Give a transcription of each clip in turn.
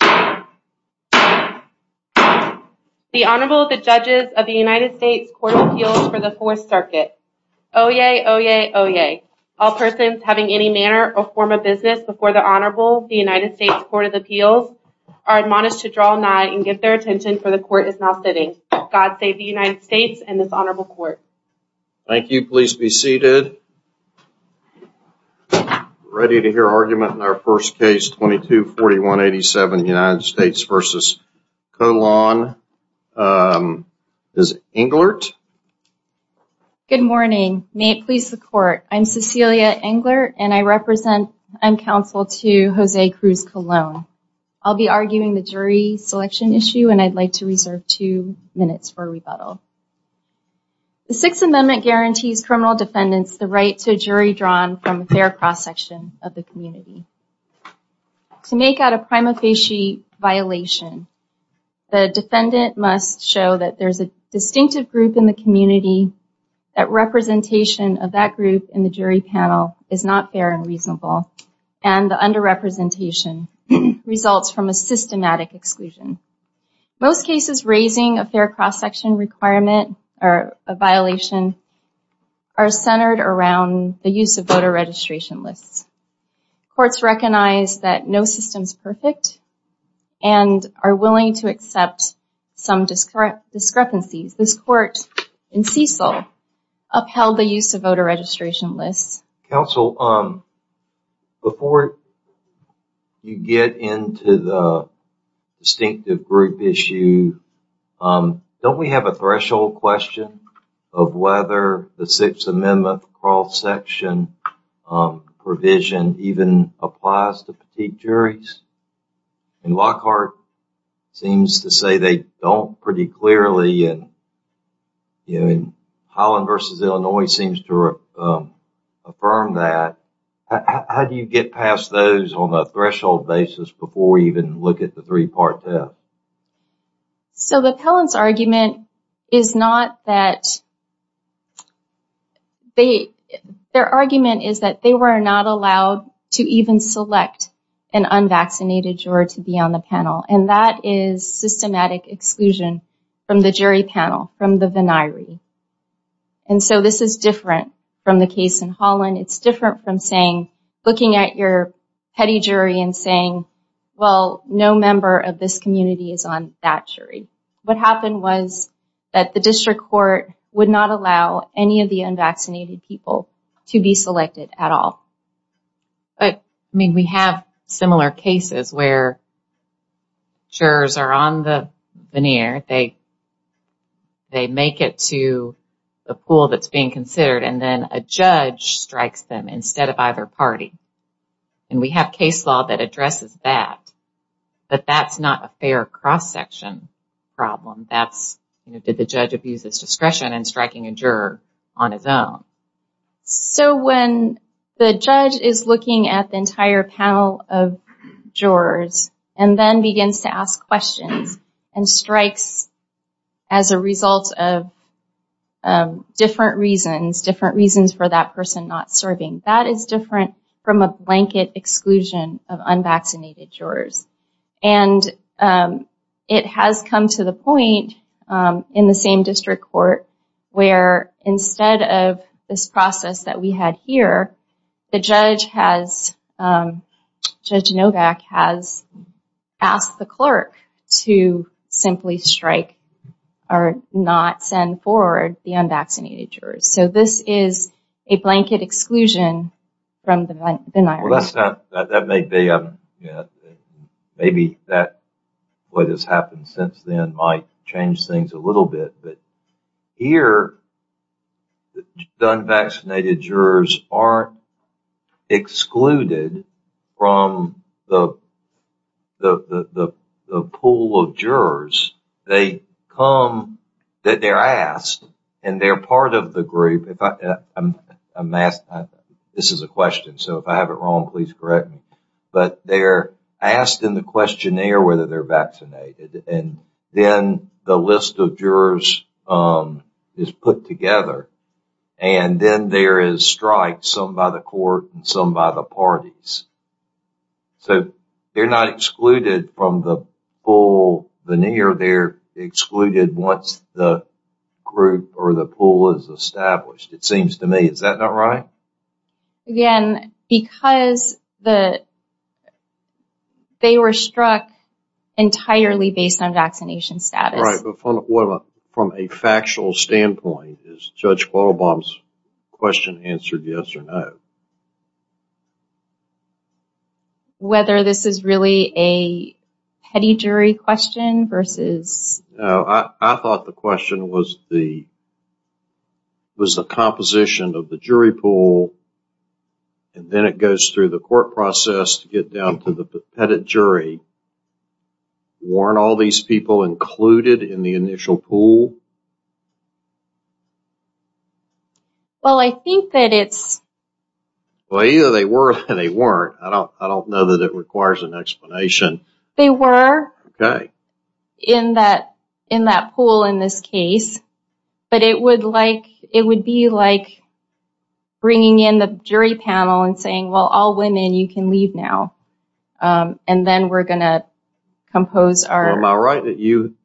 The Honorable, the Judges of the United States Court of Appeals for the Fourth Circuit. Oyez! Oyez! Oyez! All persons having any manner or form of business before the Honorable, the United States Court of Appeals, are admonished to draw nigh and give their attention, for the Court is now sitting. God save the United States and this Honorable Court. Thank you. Please be seated. Ready to hear argument in our first case, 22-4187, United States v. Colon. Is it Englert? Good morning. May it please the Court. I'm Cecilia Englert and I represent, I'm counsel to Jose Cruz Colon. I'll be arguing the jury selection issue and I'd like to reserve two minutes for rebuttal. The Sixth Amendment guarantees criminal defendants the right to a jury drawn from a fair cross-section of the community. To make out a prima facie violation, the defendant must show that there's a distinctive group in the community, that representation of that group in the jury panel is not fair and reasonable, and the under-representation results from a systematic exclusion. Most cases raising a fair cross-section requirement, or a violation, are centered around the use of voter registration lists. Courts recognize that no system's perfect and are willing to accept some discrepancies. This Court, in Cecil, upheld the use of voter registration lists. Counsel, before you get into the distinctive group issue, don't we have a threshold question of whether the Sixth Amendment cross-section provision even applies to petite juries? Lockhart seems to say they don't pretty clearly. Holland v. Illinois seems to affirm that. How do you get past those on a threshold basis before we even look at the three-part test? So the Pelham's argument is not that... Their argument is that they were not allowed to even select an unvaccinated juror to be on the panel, and that is systematic exclusion from the jury panel, from the veniree. And so this is different from the case in Holland. It's different from looking at your petty jury and saying, well, no member of this community is on that jury. What happened was that the district court would not allow any of the unvaccinated people to be selected at all. But, I mean, we have similar cases where jurors are on the veniree. They make it to the pool that's being considered, and then a judge strikes them instead of either party. And we have case law that addresses that. But that's not a fair cross-section problem. That's, you know, did the judge abuse his discretion in striking a juror on his own? So when the judge is looking at the entire panel of jurors and then begins to ask questions and strikes as a result of different reasons, different reasons for that person not serving, that is different from a blanket exclusion of unvaccinated jurors. And it has come to the point in the same district court where instead of this process that we had here, the judge has, Judge Novak has asked the clerk to simply strike or not send forward the unvaccinated jurors. So this is a blanket exclusion from the veniree. Well, that's not, that may be, maybe that, what has happened since then might change things a little bit. Here, the unvaccinated jurors aren't excluded from the pool of jurors. They come, they're asked, and they're part of the group. This is a question, so if I have it wrong, please correct me. But they're asked in the questionnaire whether they're vaccinated. And then the list of jurors is put together. And then there is strikes, some by the court and some by the parties. So they're not excluded from the full veneer. They're excluded once the group or the pool is established, it seems to me. Is that not right? Again, because they were struck entirely based on vaccination status. Right, but from a factual standpoint, is Judge Quattlebaum's question answered yes or no? Whether this is really a petty jury question versus... No, I thought the question was the composition of the jury pool. And then it goes through the court process to get down to the petty jury. Weren't all these people included in the initial pool? Well, I think that it's... Well, either they were or they weren't. I don't know that it requires an explanation. They were in that pool in this case. But it would be like bringing in the jury panel and saying, well, all women, you can leave now. And then we're going to compose our... Well, am I right that you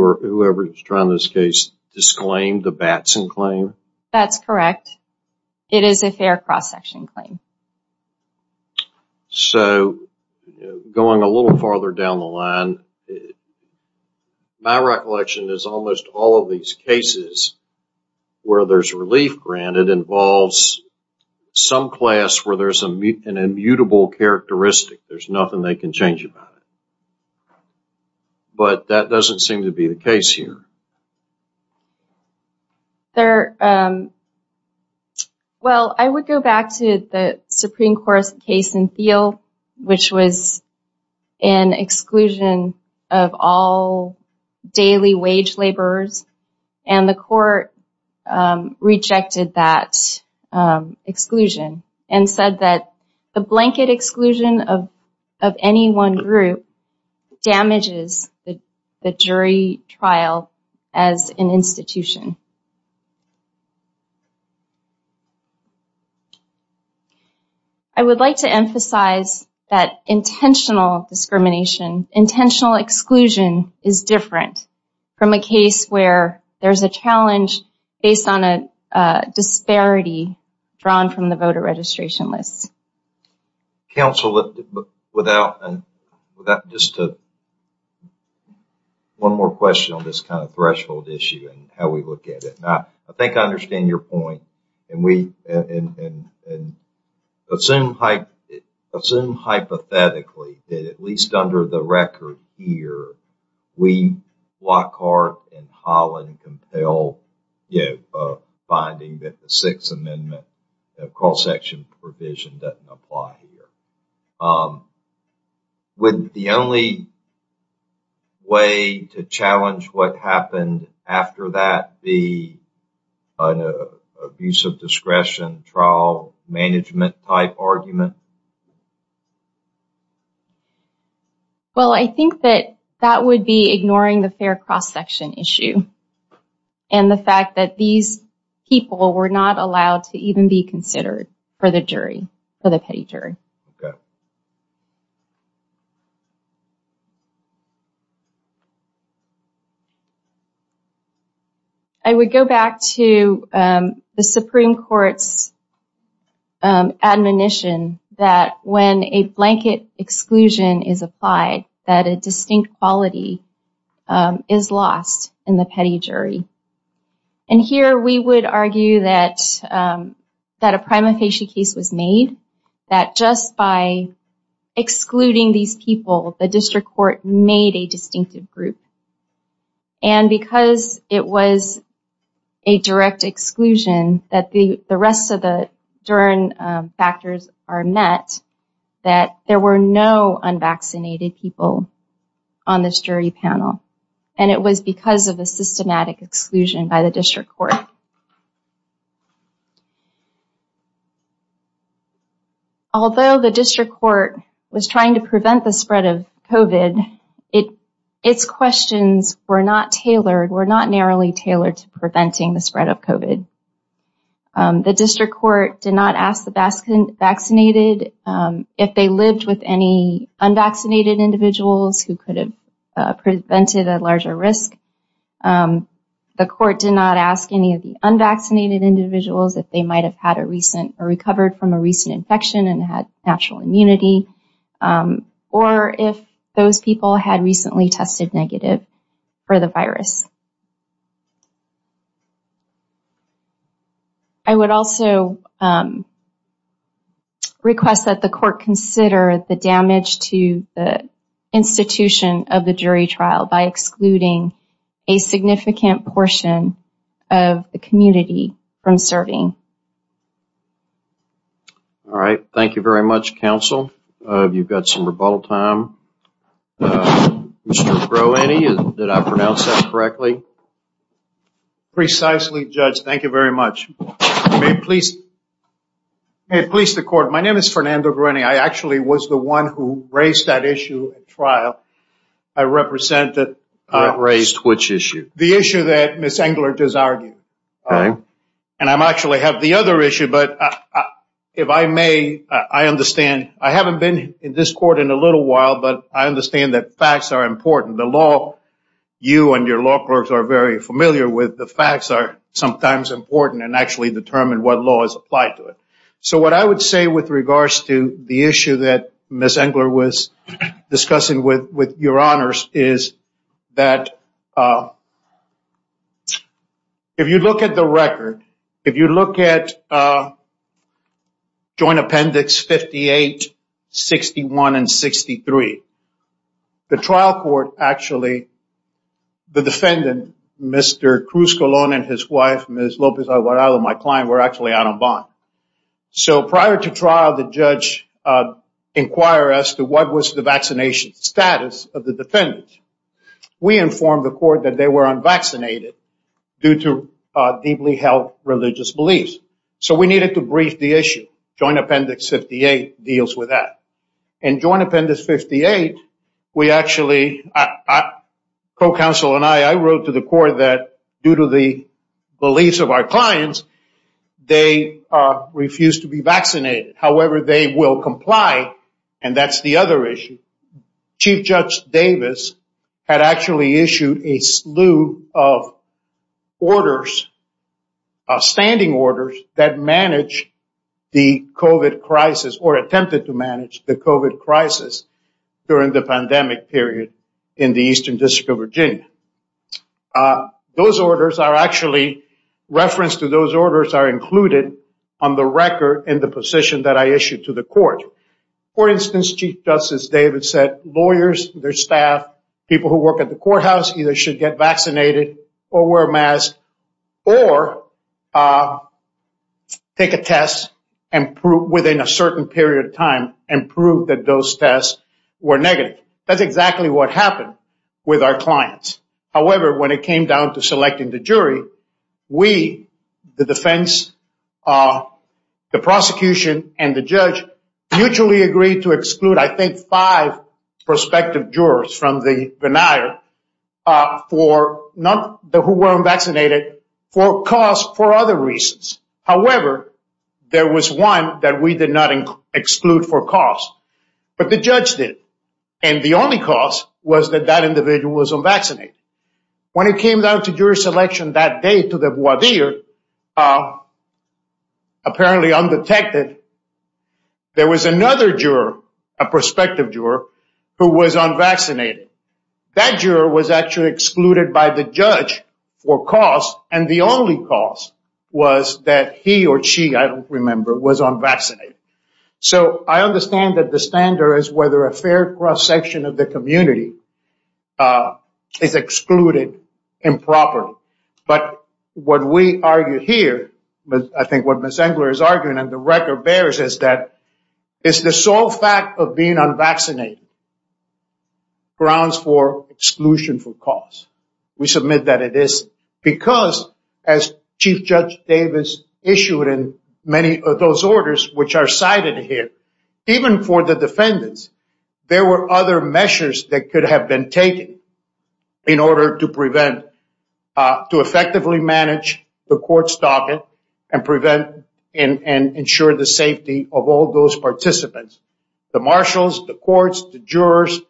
or whoever is trying this case disclaimed the Batson claim? That's correct. It is a fair cross-section claim. So, going a little farther down the line, my recollection is almost all of these cases where there's relief granted involves some class where there's an immutable characteristic. There's nothing they can change about it. But that doesn't seem to be the case here. There... Well, I would go back to the Supreme Court's case in Thiel, which was an exclusion of all daily wage laborers. And the court rejected that exclusion and said that the blanket exclusion of any one group damages the jury trial as an institution. I would like to emphasize that intentional discrimination, intentional exclusion is different from a case where there's a challenge based on a disparity drawn from the voter registration list. Counsel, without... Just one more question on this kind of threshold issue and how we look at it. I think I understand your point. And we... Assume hypothetically that at least under the record here, we, Lockhart and Holland, wouldn't compel a finding that the Sixth Amendment cross-section provision doesn't apply here. Would the only way to challenge what happened after that be an abuse of discretion trial management type argument? Well, I think that that would be ignoring the fair cross-section issue and the fact that these people were not allowed to even be considered for the jury, for the petty jury. I would go back to the Supreme Court's admonition that when a blanket exclusion is applied, that a distinct quality is lost in the petty jury. And here we would argue that a prima facie case was made, that just by excluding these people, the district court made a distinctive group. And because it was a direct exclusion, that the rest of the DERN factors are met, that there were no unvaccinated people on this jury panel. And it was because of a systematic exclusion by the district court. Although the district court was trying to prevent the spread of COVID, its questions were not tailored, were not narrowly tailored to preventing the spread of COVID. The district court did not ask the vaccinated, if they lived with any unvaccinated individuals who could have prevented a larger risk. The court did not ask any of the unvaccinated individuals if they might have had a recent or recovered from a recent infection and had natural immunity, or if those people had recently tested negative for the virus. I would also request that the court consider the damage to the institution of the jury trial by excluding a significant portion of the community from serving. All right, thank you very much, counsel. You've got some rebuttal time. Mr. Groeney, did I pronounce that correctly? Precisely, Judge, thank you very much. May it please the court. My name is Fernando Groeney. I actually was the one who raised that issue at trial. I represent the... Raised which issue? The issue that Ms. Engler just argued. And I actually have the other issue, but if I may, I understand. I haven't been in this court in a little while, but I understand that facts are important. The law, you and your law clerks are very familiar with. The facts are sometimes important and actually determine what law is applied to it. So what I would say with regards to the issue that Ms. Engler was discussing with your honors is that if you look at the record, if you look at Joint Appendix 58, 61, and 63, the trial court actually, the defendant, Mr. Cruz Colon and his wife, Ms. Lopez Alvarado, my client, were actually out on bond. So prior to trial, the judge inquired as to what was the vaccination status of the defendant. We informed the court that they were unvaccinated due to deeply held religious beliefs. So we needed to brief the issue. Joint Appendix 58 deals with that. In Joint Appendix 58, we actually... Co-counsel and I, I wrote to the court that due to the beliefs of our clients, they refused to be vaccinated. However, they will comply. And that's the other issue. Chief Judge Davis had actually issued a slew of orders, standing orders, that managed the COVID crisis or attempted to manage the COVID crisis during the pandemic period in the Eastern District of Virginia. Those orders are actually... Reference to those orders are included on the record in the position that I issued to the court. For instance, Chief Justice Davis said lawyers, their staff, people who work at the courthouse either should get vaccinated or wear a mask or take a test within a certain period of time and prove that those tests were negative. That's exactly what happened with our clients. However, when it came down to selecting the jury, we, the defense, the prosecution and the judge mutually agreed to exclude, I think, five prospective jurors from the veneer who were unvaccinated for cause, for other reasons. However, there was one that we did not exclude for cause. But the judge did. And the only cause was that that individual was unvaccinated. When it came down to jury selection that day to the voir dire, apparently undetected, there was another juror, a prospective juror, who was unvaccinated. That juror was actually excluded by the judge for cause, and the only cause was that he or she, I don't remember, was unvaccinated. So I understand that the standard is whether a fair cross-section of the community is excluded improperly. But what we argue here, I think what Ms. Engler is arguing, and the record bears, is that it's the sole fact of being unvaccinated grounds for exclusion for cause. We submit that it is because, as Chief Judge Davis issued in many of those orders, which are cited here, even for the defendants, there were other measures that could have been taken in order to prevent, to effectively manage the court's docket and ensure the safety of all those participants. The marshals, the courts, the jurors,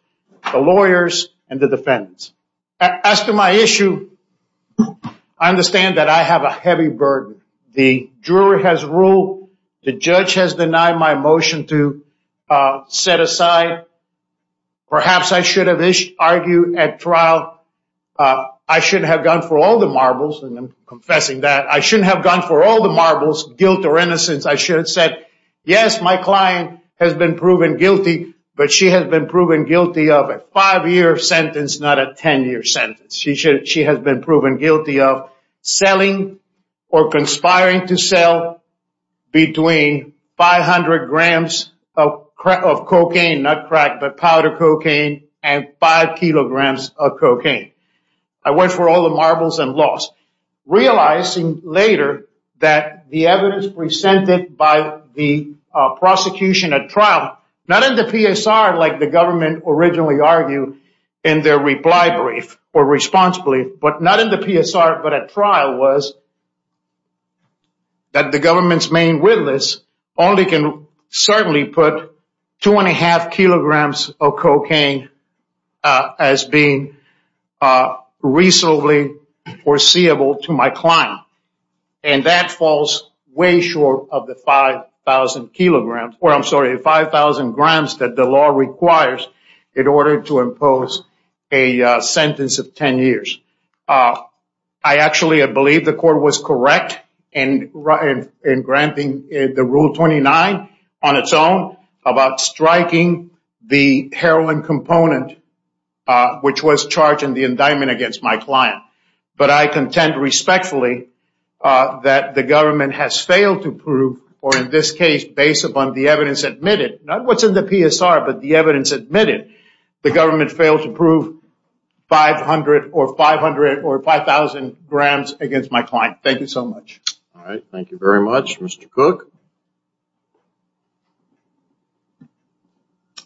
the lawyers, and the defendants. As to my issue, I understand that I have a heavy burden. The jury has ruled, the judge has denied my motion to set aside. Perhaps I should have argued at trial, I should have gone for all the marbles, and I'm confessing that. I shouldn't have gone for all the marbles, guilt or innocence. I should have said, yes, my client has been proven guilty, but she has been proven guilty of a five-year sentence, not a ten-year sentence. She has been proven guilty of selling or conspiring to sell between 500 grams of cocaine, not crack, but powder cocaine, and five kilograms of cocaine. I went for all the marbles and lost. Realizing later that the evidence presented by the prosecution at trial, not in the PSR like the government originally argued in their reply brief or response brief, but not in the PSR but at trial was that the government's main witness only can certainly put two and a half kilograms of cocaine as being reasonably foreseeable to my client. And that falls way short of the 5,000 kilograms or I'm sorry, the 5,000 grams that the law requires in order to impose a I actually believe the court was correct in granting the Rule 29 on its own about striking the heroin component, which was charged in the indictment against my client. But I contend respectfully that the government has failed to prove, or in this case, based upon the evidence admitted, not what's in the PSR, but the evidence admitted, the government failed to prove 500 or 500 or 5,000 grams against my client. Thank you so much. All right. Thank you very much. Mr. Cook?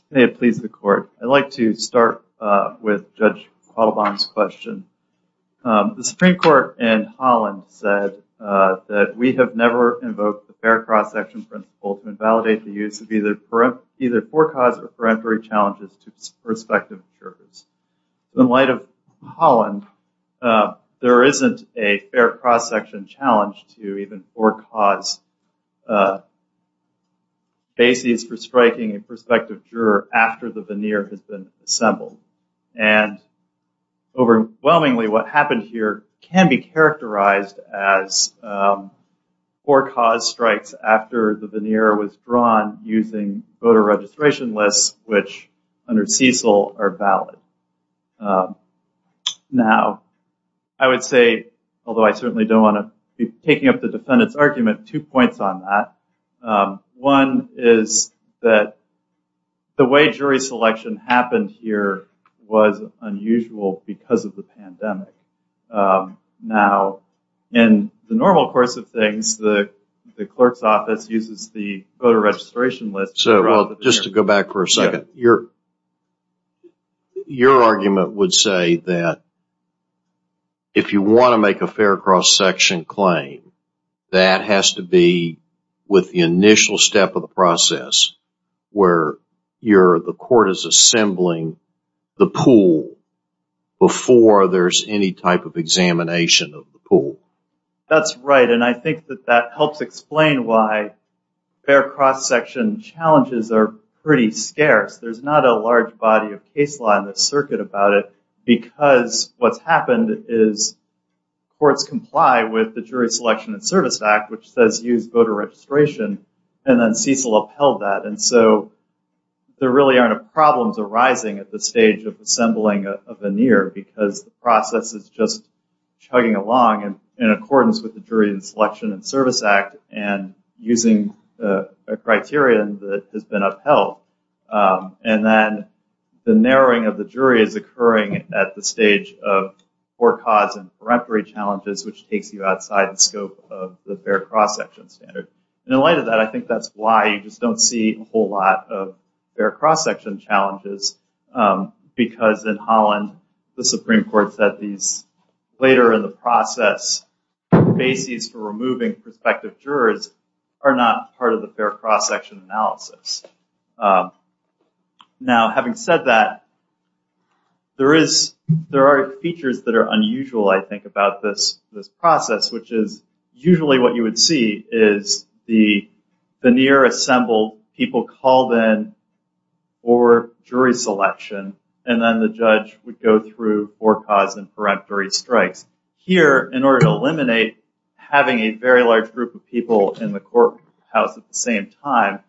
May it please the court. I'd like to start with Judge Quattlebaum's question. The Supreme Court in Holland said that we have never invoked the fair cross-section principle to invalidate the use of either forecaused or in light of Holland, there isn't a fair cross-section challenge to even forecaused bases for striking a prospective juror after the veneer has been assembled. And overwhelmingly what happened here can be characterized as forecaused strikes after the veneer was drawn using voter registration lists, which under Cecil are valid. Now, I would say, although I certainly don't want to be taking up the defendant's argument, two points on that. One is that the way jury selection happened here was unusual because of the pandemic. Now, in the normal course of things, the clerk's office uses the voter registration list. Your argument would say that if you want to make a fair cross-section claim, that has to be with the initial step of the process where the court is assembling the pool before there's any type of examination of the pool. That's right, and I think that helps explain why fair cross-section challenges are pretty scarce. There's not a large body of case law in this circuit about it because what's happened is courts comply with the Jury Selection and Service Act, which says use voter registration, and then Cecil upheld that, and so there really aren't problems arising at the stage of assembling a veneer because the process is just chugging along in accordance with the Jury Selection and Service Act and using a criterion that has been upheld. And then the narrowing of the jury is occurring at the stage of poor cause and peremptory challenges, which takes you outside the scope of the fair cross-section standard. And in light of that, I think that's why you just don't see a whole lot of fair cross-section challenges because in Holland, the Supreme Court said these later in the process bases for removing prospective jurors are not part of the fair cross-section analysis. Now, having said that, there are features that are unusual, I think, about this process, which is usually what you would see is the veneer assembled, people called in for jury selection, and then the judge would go through poor cause and peremptory strikes. Here, in order to eliminate having a very large group of people in the court house at the same time,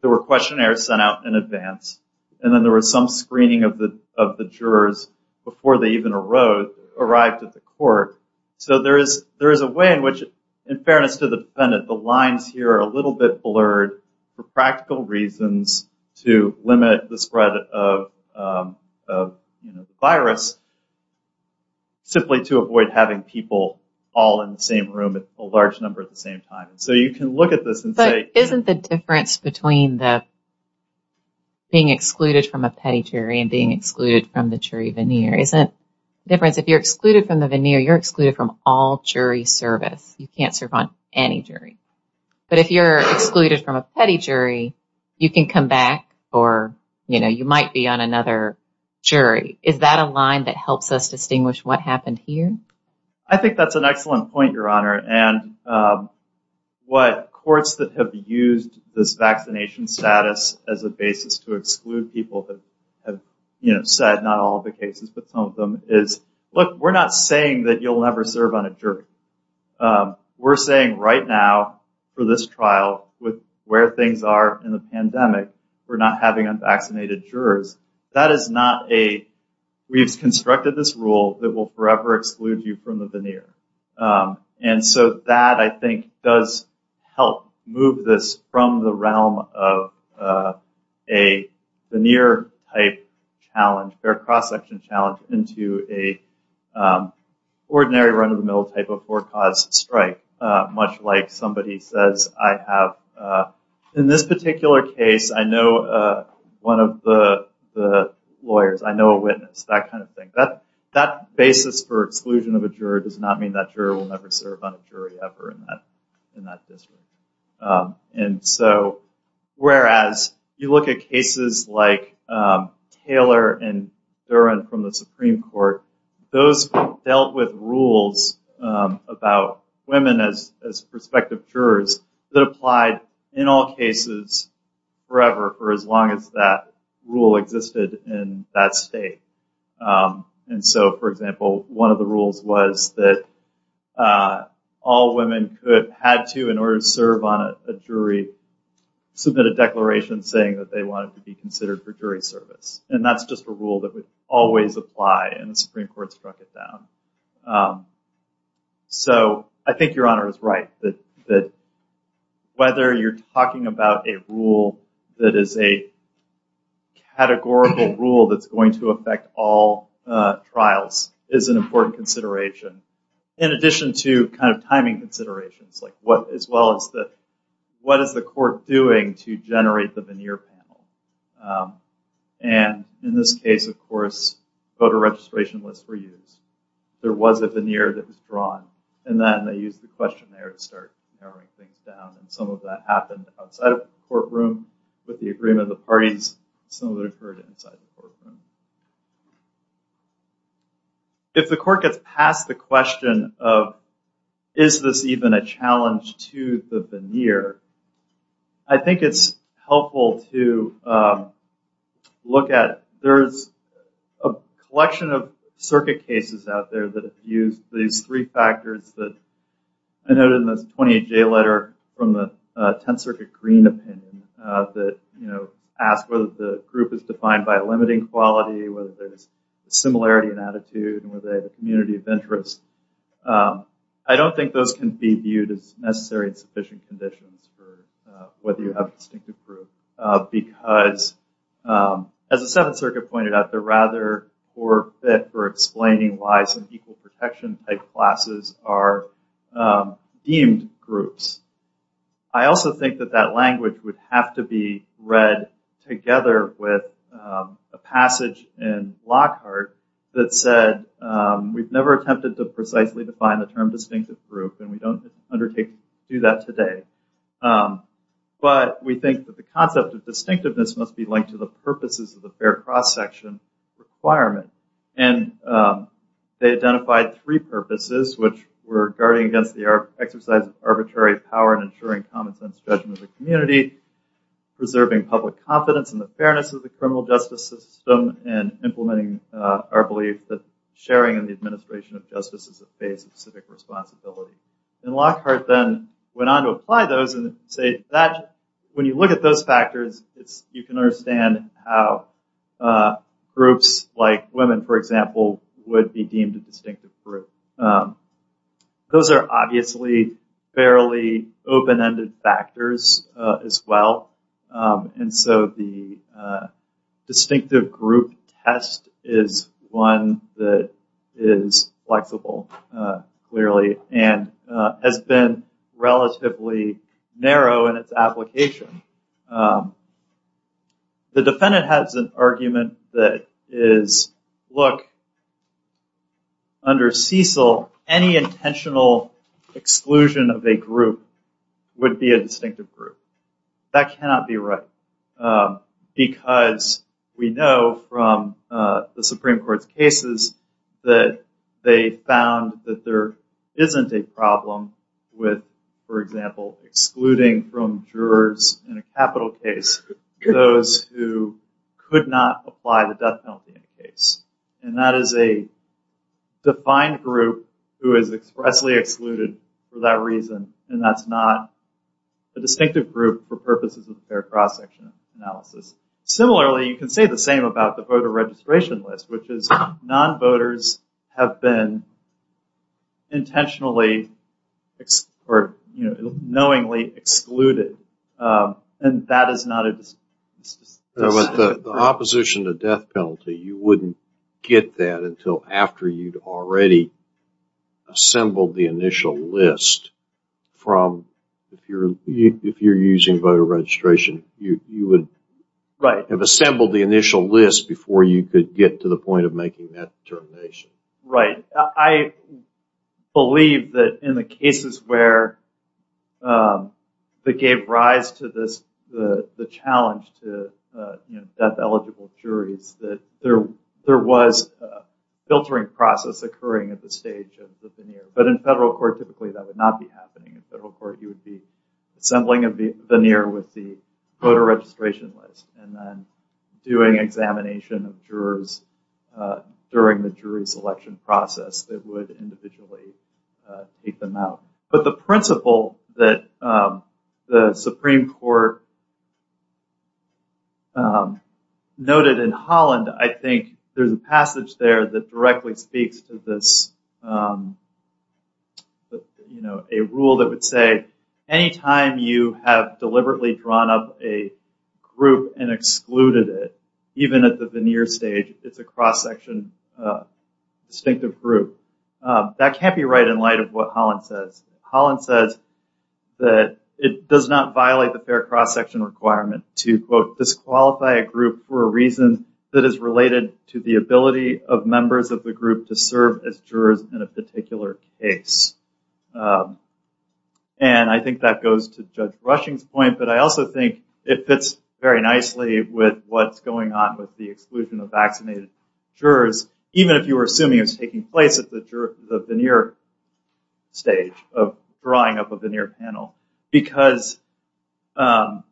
there were questionnaires sent out in advance, and then there was some screening of the jurors before they even arrived at the court. So there is a way in which, in fairness to the defendant, the lines here are a little bit blurred for practical reasons to limit the spread of the virus simply to avoid having people all in the same room, a large number at the same time. So you can look at this and say... But isn't the difference between being excluded from a petty jury and being excluded from the jury veneer? If you're excluded from the veneer, you're excluded from all jury service. You can't serve on any jury. But if you're excluded from a petty jury, you can come back, or you might be on another jury. Is that a line that helps us distinguish what happened here? I think that's an excellent point, Your Honor. What courts that have used this vaccination status as a basis to exclude people have said, not all the cases, but some of them, is, look, we're not saying that you'll never serve on a jury. We're saying, right now, for this trial, where things are in the pandemic, we're not having unvaccinated jurors. We've constructed this rule that will forever exclude you from the veneer. And so that, I think, does help move this from the realm of a veneer-type challenge, or cross-section challenge, into an ordinary run-of-the-mill type before-cause strike, much like somebody says, I have, in this particular case, I know one of the lawyers, I know a witness, that kind of thing. That basis for exclusion of a juror does not mean that juror will never serve on a jury ever in that district. And so, whereas you look at cases like Taylor and Duren from the Supreme Court, those dealt with rules about women as prospective jurors that applied, in all cases, forever, for as long as that rule existed in that state. For example, one of the rules was that all women had to, in order to serve on a jury, submit a declaration saying that they wanted to be considered for jury service. And that's just a rule that would always apply, and the Supreme Court struck it down. So, I think Your Honor is right, that whether you're talking about a rule that is a categorical rule that's going to affect all trials is an important consideration, in addition to timing considerations, as well as what is the court doing to generate the veneer panel. And in this case, of course, voter registration lists were used. There was a veneer that was drawn, and then they used the question there to start narrowing things down. And some of that happened outside of the courtroom with the agreement of the parties, and some of it occurred inside the courtroom. If the court gets past the question of is this even a challenge to the jury, it's helpful to look at there's a collection of circuit cases out there that have used these three factors that I noted in this 28-J letter from the Tenth Circuit Green opinion that ask whether the group is defined by a limiting quality, whether there's a similarity in attitude, and whether they have a community of interest. I don't think those can be viewed as necessary and sufficient conditions for whether you have distinctive group because, as the Seventh Circuit pointed out, they're rather poor fit for explaining why some equal protection type classes are deemed groups. I also think that that language would have to be read together with a passage in Lockhart that said we've never attempted to precisely define the term today, but we think that the concept of distinctiveness must be linked to the purposes of the fair cross-section requirement. They identified three purposes, which were guarding against the exercise of arbitrary power and ensuring common sense judgment of the community, preserving public confidence in the fairness of the criminal justice system, and implementing our belief that sharing in the administration of justice is a phase of civic responsibility. Lockhart then went on to apply those and say that when you look at those factors, you can understand how groups like women, for example, would be deemed a distinctive group. Those are obviously fairly open-ended factors as well, and so the distinctive group test is one that is flexible, clearly, and has been relatively narrow in its application. The defendant has an argument that is, look, under Cecil, any intentional exclusion of a group would be a distinctive group. That cannot be right because we know from the Supreme Court's cases that they found that there isn't a problem with, for example, excluding from jurors in a capital case those who could not apply the death penalty in the case, and that is a defined group who is expressly excluded for that reason, and that's not a distinctive group for purposes of the fair cross-section analysis. Similarly, you can say the same about the voter registration list, which is non-voters have been intentionally or knowingly excluded, and that is not a distinctive group. With the opposition to death penalty, you wouldn't get that until after you'd already assembled the initial list from, if you're using voter registration, you would have assembled the initial list before you could get to the point of making that determination. I believe that in the cases where they gave rise to the challenge to death-eligible juries, that there was a filtering process occurring at the stage of the veneer, but in federal court, typically, that would not be happening. In federal court, you would be assembling a veneer with the voter registration list and then doing examination of jurors during the jury selection process that would individually take them out. But the principle that the Supreme Court noted in Holland, I think there's a passage there that directly speaks to this rule that would say, anytime you have deliberately drawn up a group and excluded it, even at the veneer stage, it's a cross-section distinctive group. That can't be right in light of what Holland says. Holland says that it does not violate the fair cross-section requirement to, quote, disqualify a group for a reason that is related to the ability of members of the particular case. And I think that goes to Judge Rushing's point, but I also think it fits very nicely with what's going on with the exclusion of vaccinated jurors, even if you were assuming it was taking place at the veneer stage of drawing up a veneer panel. Because the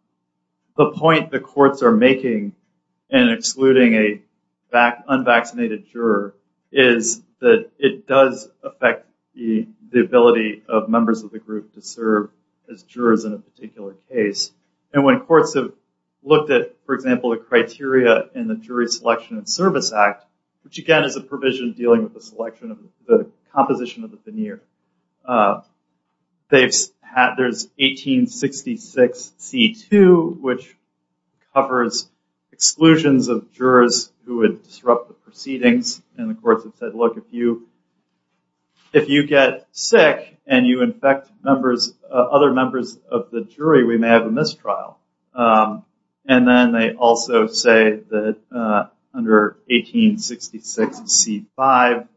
point the courts are making in excluding an unvaccinated juror is that it does affect the ability of members of the group to serve as jurors in a particular case. And when courts have looked at, for example, the criteria in the Jury Selection and Service Act, which again is a provision dealing with the selection of the composition of the veneer. There's 1866c2, which covers exclusions of jurors who would disrupt the proceedings. And the courts have said, look, if you get sick and you infect other members of the jury, we may have a mistrial. And then they also say that under 1866c5,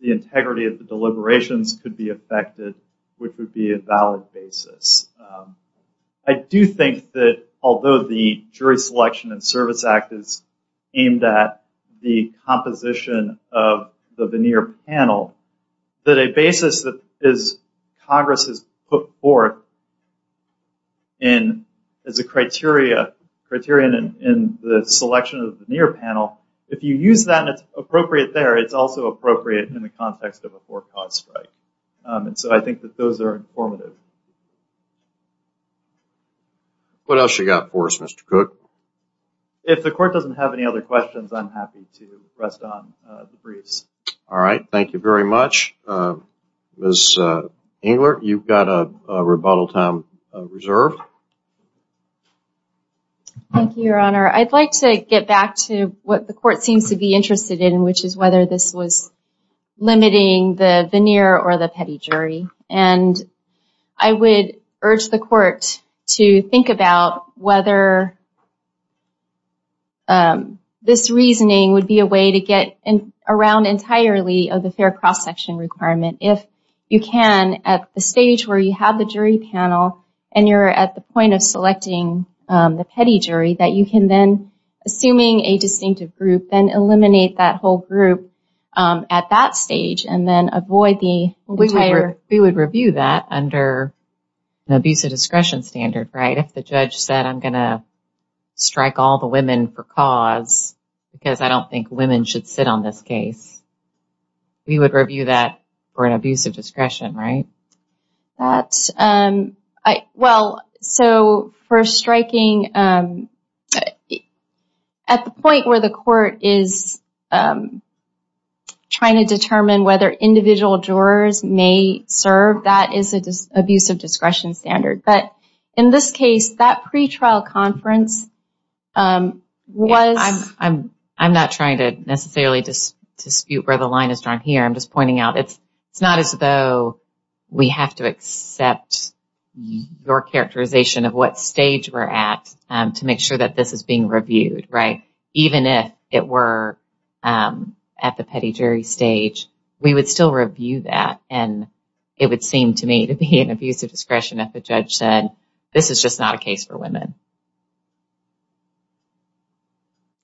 the integrity of the deliberations could be affected, which would be a valid basis. I do think that although the Jury Selection and Service Act is aimed at the composition of the veneer panel, that a basis that Congress has put forth as a criteria in the selection of the veneer panel, if you use that and it's appropriate there, it's also appropriate in the context of a court-caused strike. And so I think that those are informative. What else you got for us, Mr. Cook? If the Court doesn't have any other questions, I'm happy to rest on the briefs. All right. Thank you very much. Ms. Engler, you've got a rebuttal time reserved. Thank you, Your Honor. I'd like to get back to what the Court seems to be interested in, which is whether this was limiting the veneer or the petty jury. And I would urge the Court to think about whether this reasoning would be a way to get around entirely of the fair cross-section requirement. If you can at the stage where you have the jury panel and you're at the point of selecting the petty jury, that you can then, assuming a distinctive group, then eliminate that whole group at that point. We would review that under an abusive discretion standard, right? If the judge said, I'm going to strike all the women for cause because I don't think women should sit on this case, we would review that for an abusive discretion, right? Well, so for striking at the point where the Court is trying to determine whether individual jurors may serve, that is an abusive discretion standard. But in this case, that pretrial conference was... I'm not trying to necessarily dispute where the line is drawn here. I'm just pointing out it's not as though we have to accept your characterization of what stage we're at to make sure that this is being reviewed, right? Even if it were at the petty jury stage, we would still review that and it would seem to me to be an abusive discretion if the judge said, this is just not a case for women.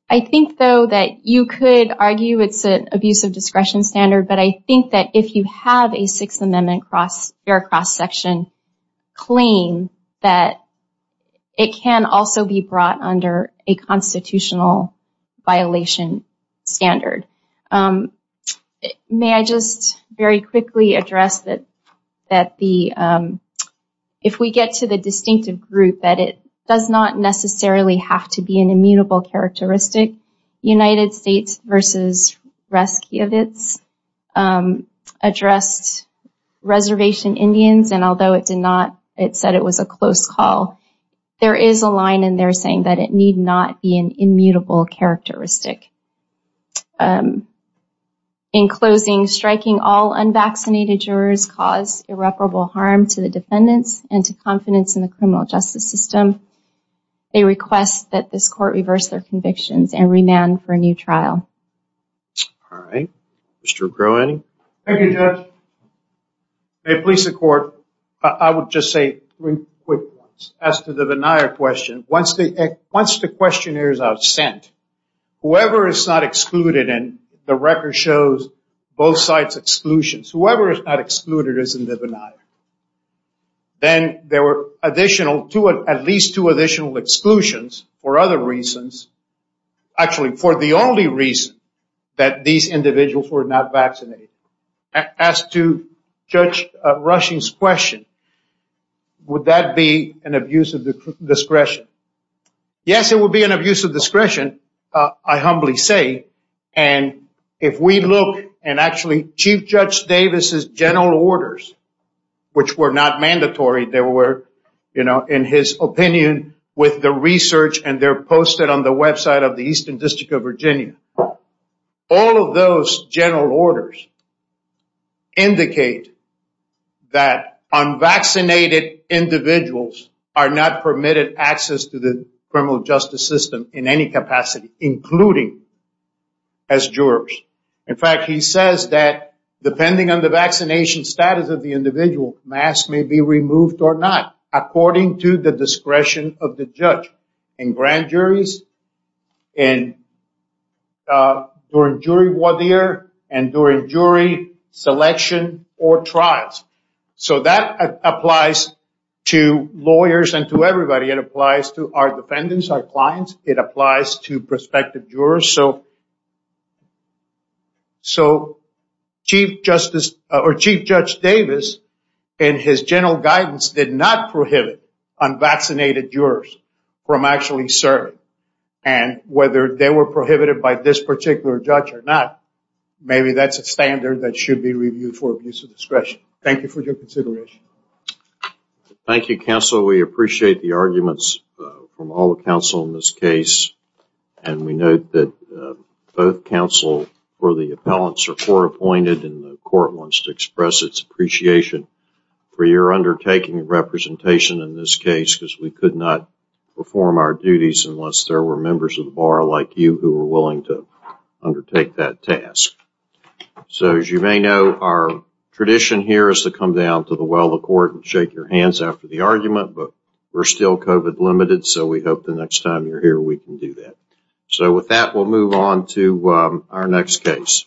I think though that you could argue it's an abusive discretion standard, but I think that if you have a Sixth Amendment fair cross-section claim, that it can also be brought under a constitutional violation standard. May I just very quickly address that if we get to the distinctive group, that it does not necessarily have to be an immutable characteristic. United States v. Reskiewicz addressed Reservation Indians, and although it did not it said it was a close call. There is a line in there saying that it need not be an immutable characteristic. In closing, striking all unvaccinated jurors cause irreparable harm to the defendants and to confidence in the criminal justice system. They request that this court reverse their convictions and remand for a new trial. Thank you, Judge. May it please the court, I would just say three quick points. As to the Benaia question, once the questionnaires are sent, whoever is not excluded and the record shows both sides' exclusions whoever is not excluded is in the Benaia. Then there were at least two additional exclusions for other reasons actually for the only reason that these individuals were not vaccinated. As to Judge Rushing's question, would that be an abuse of discretion? Yes, it would be an abuse of discretion I humbly say, and if we look and actually Chief Judge Davis's general orders, which were not mandatory they were, you know, in his opinion with the research and they're posted on the website of the Eastern District of Virginia. All of those general orders indicate that unvaccinated individuals are not permitted access to the criminal justice system in any capacity including as jurors. In fact, he says that depending on the vaccination status of the individual, masks may be removed or not according to the discretion of the judge in grand juries during jury voir dire and during jury selection or trials. So that applies to lawyers and to everybody. It applies to our defendants, our clients. It applies to prospective jurors. So Chief Justice or Chief Judge Davis in his general guidance did not prohibit unvaccinated jurors from actually serving and whether they were prohibited by this particular judge or not, maybe that's a standard that should be reviewed for abuse of discretion. Thank you for your consideration. Thank you, counsel. We appreciate the arguments from all the counsel in this case and we note that both counsel or the appellants are court appointed and the court wants to express its appreciation for your undertaking representation in this case because we could not perform our duties unless there were members of the bar like you who were willing to undertake that task. So as you may know, our tradition here is to come down to the well of court and shake your hands after the argument but we're still COVID limited so we hope the next time you're here we can do that. So with that, we'll move on to our next case.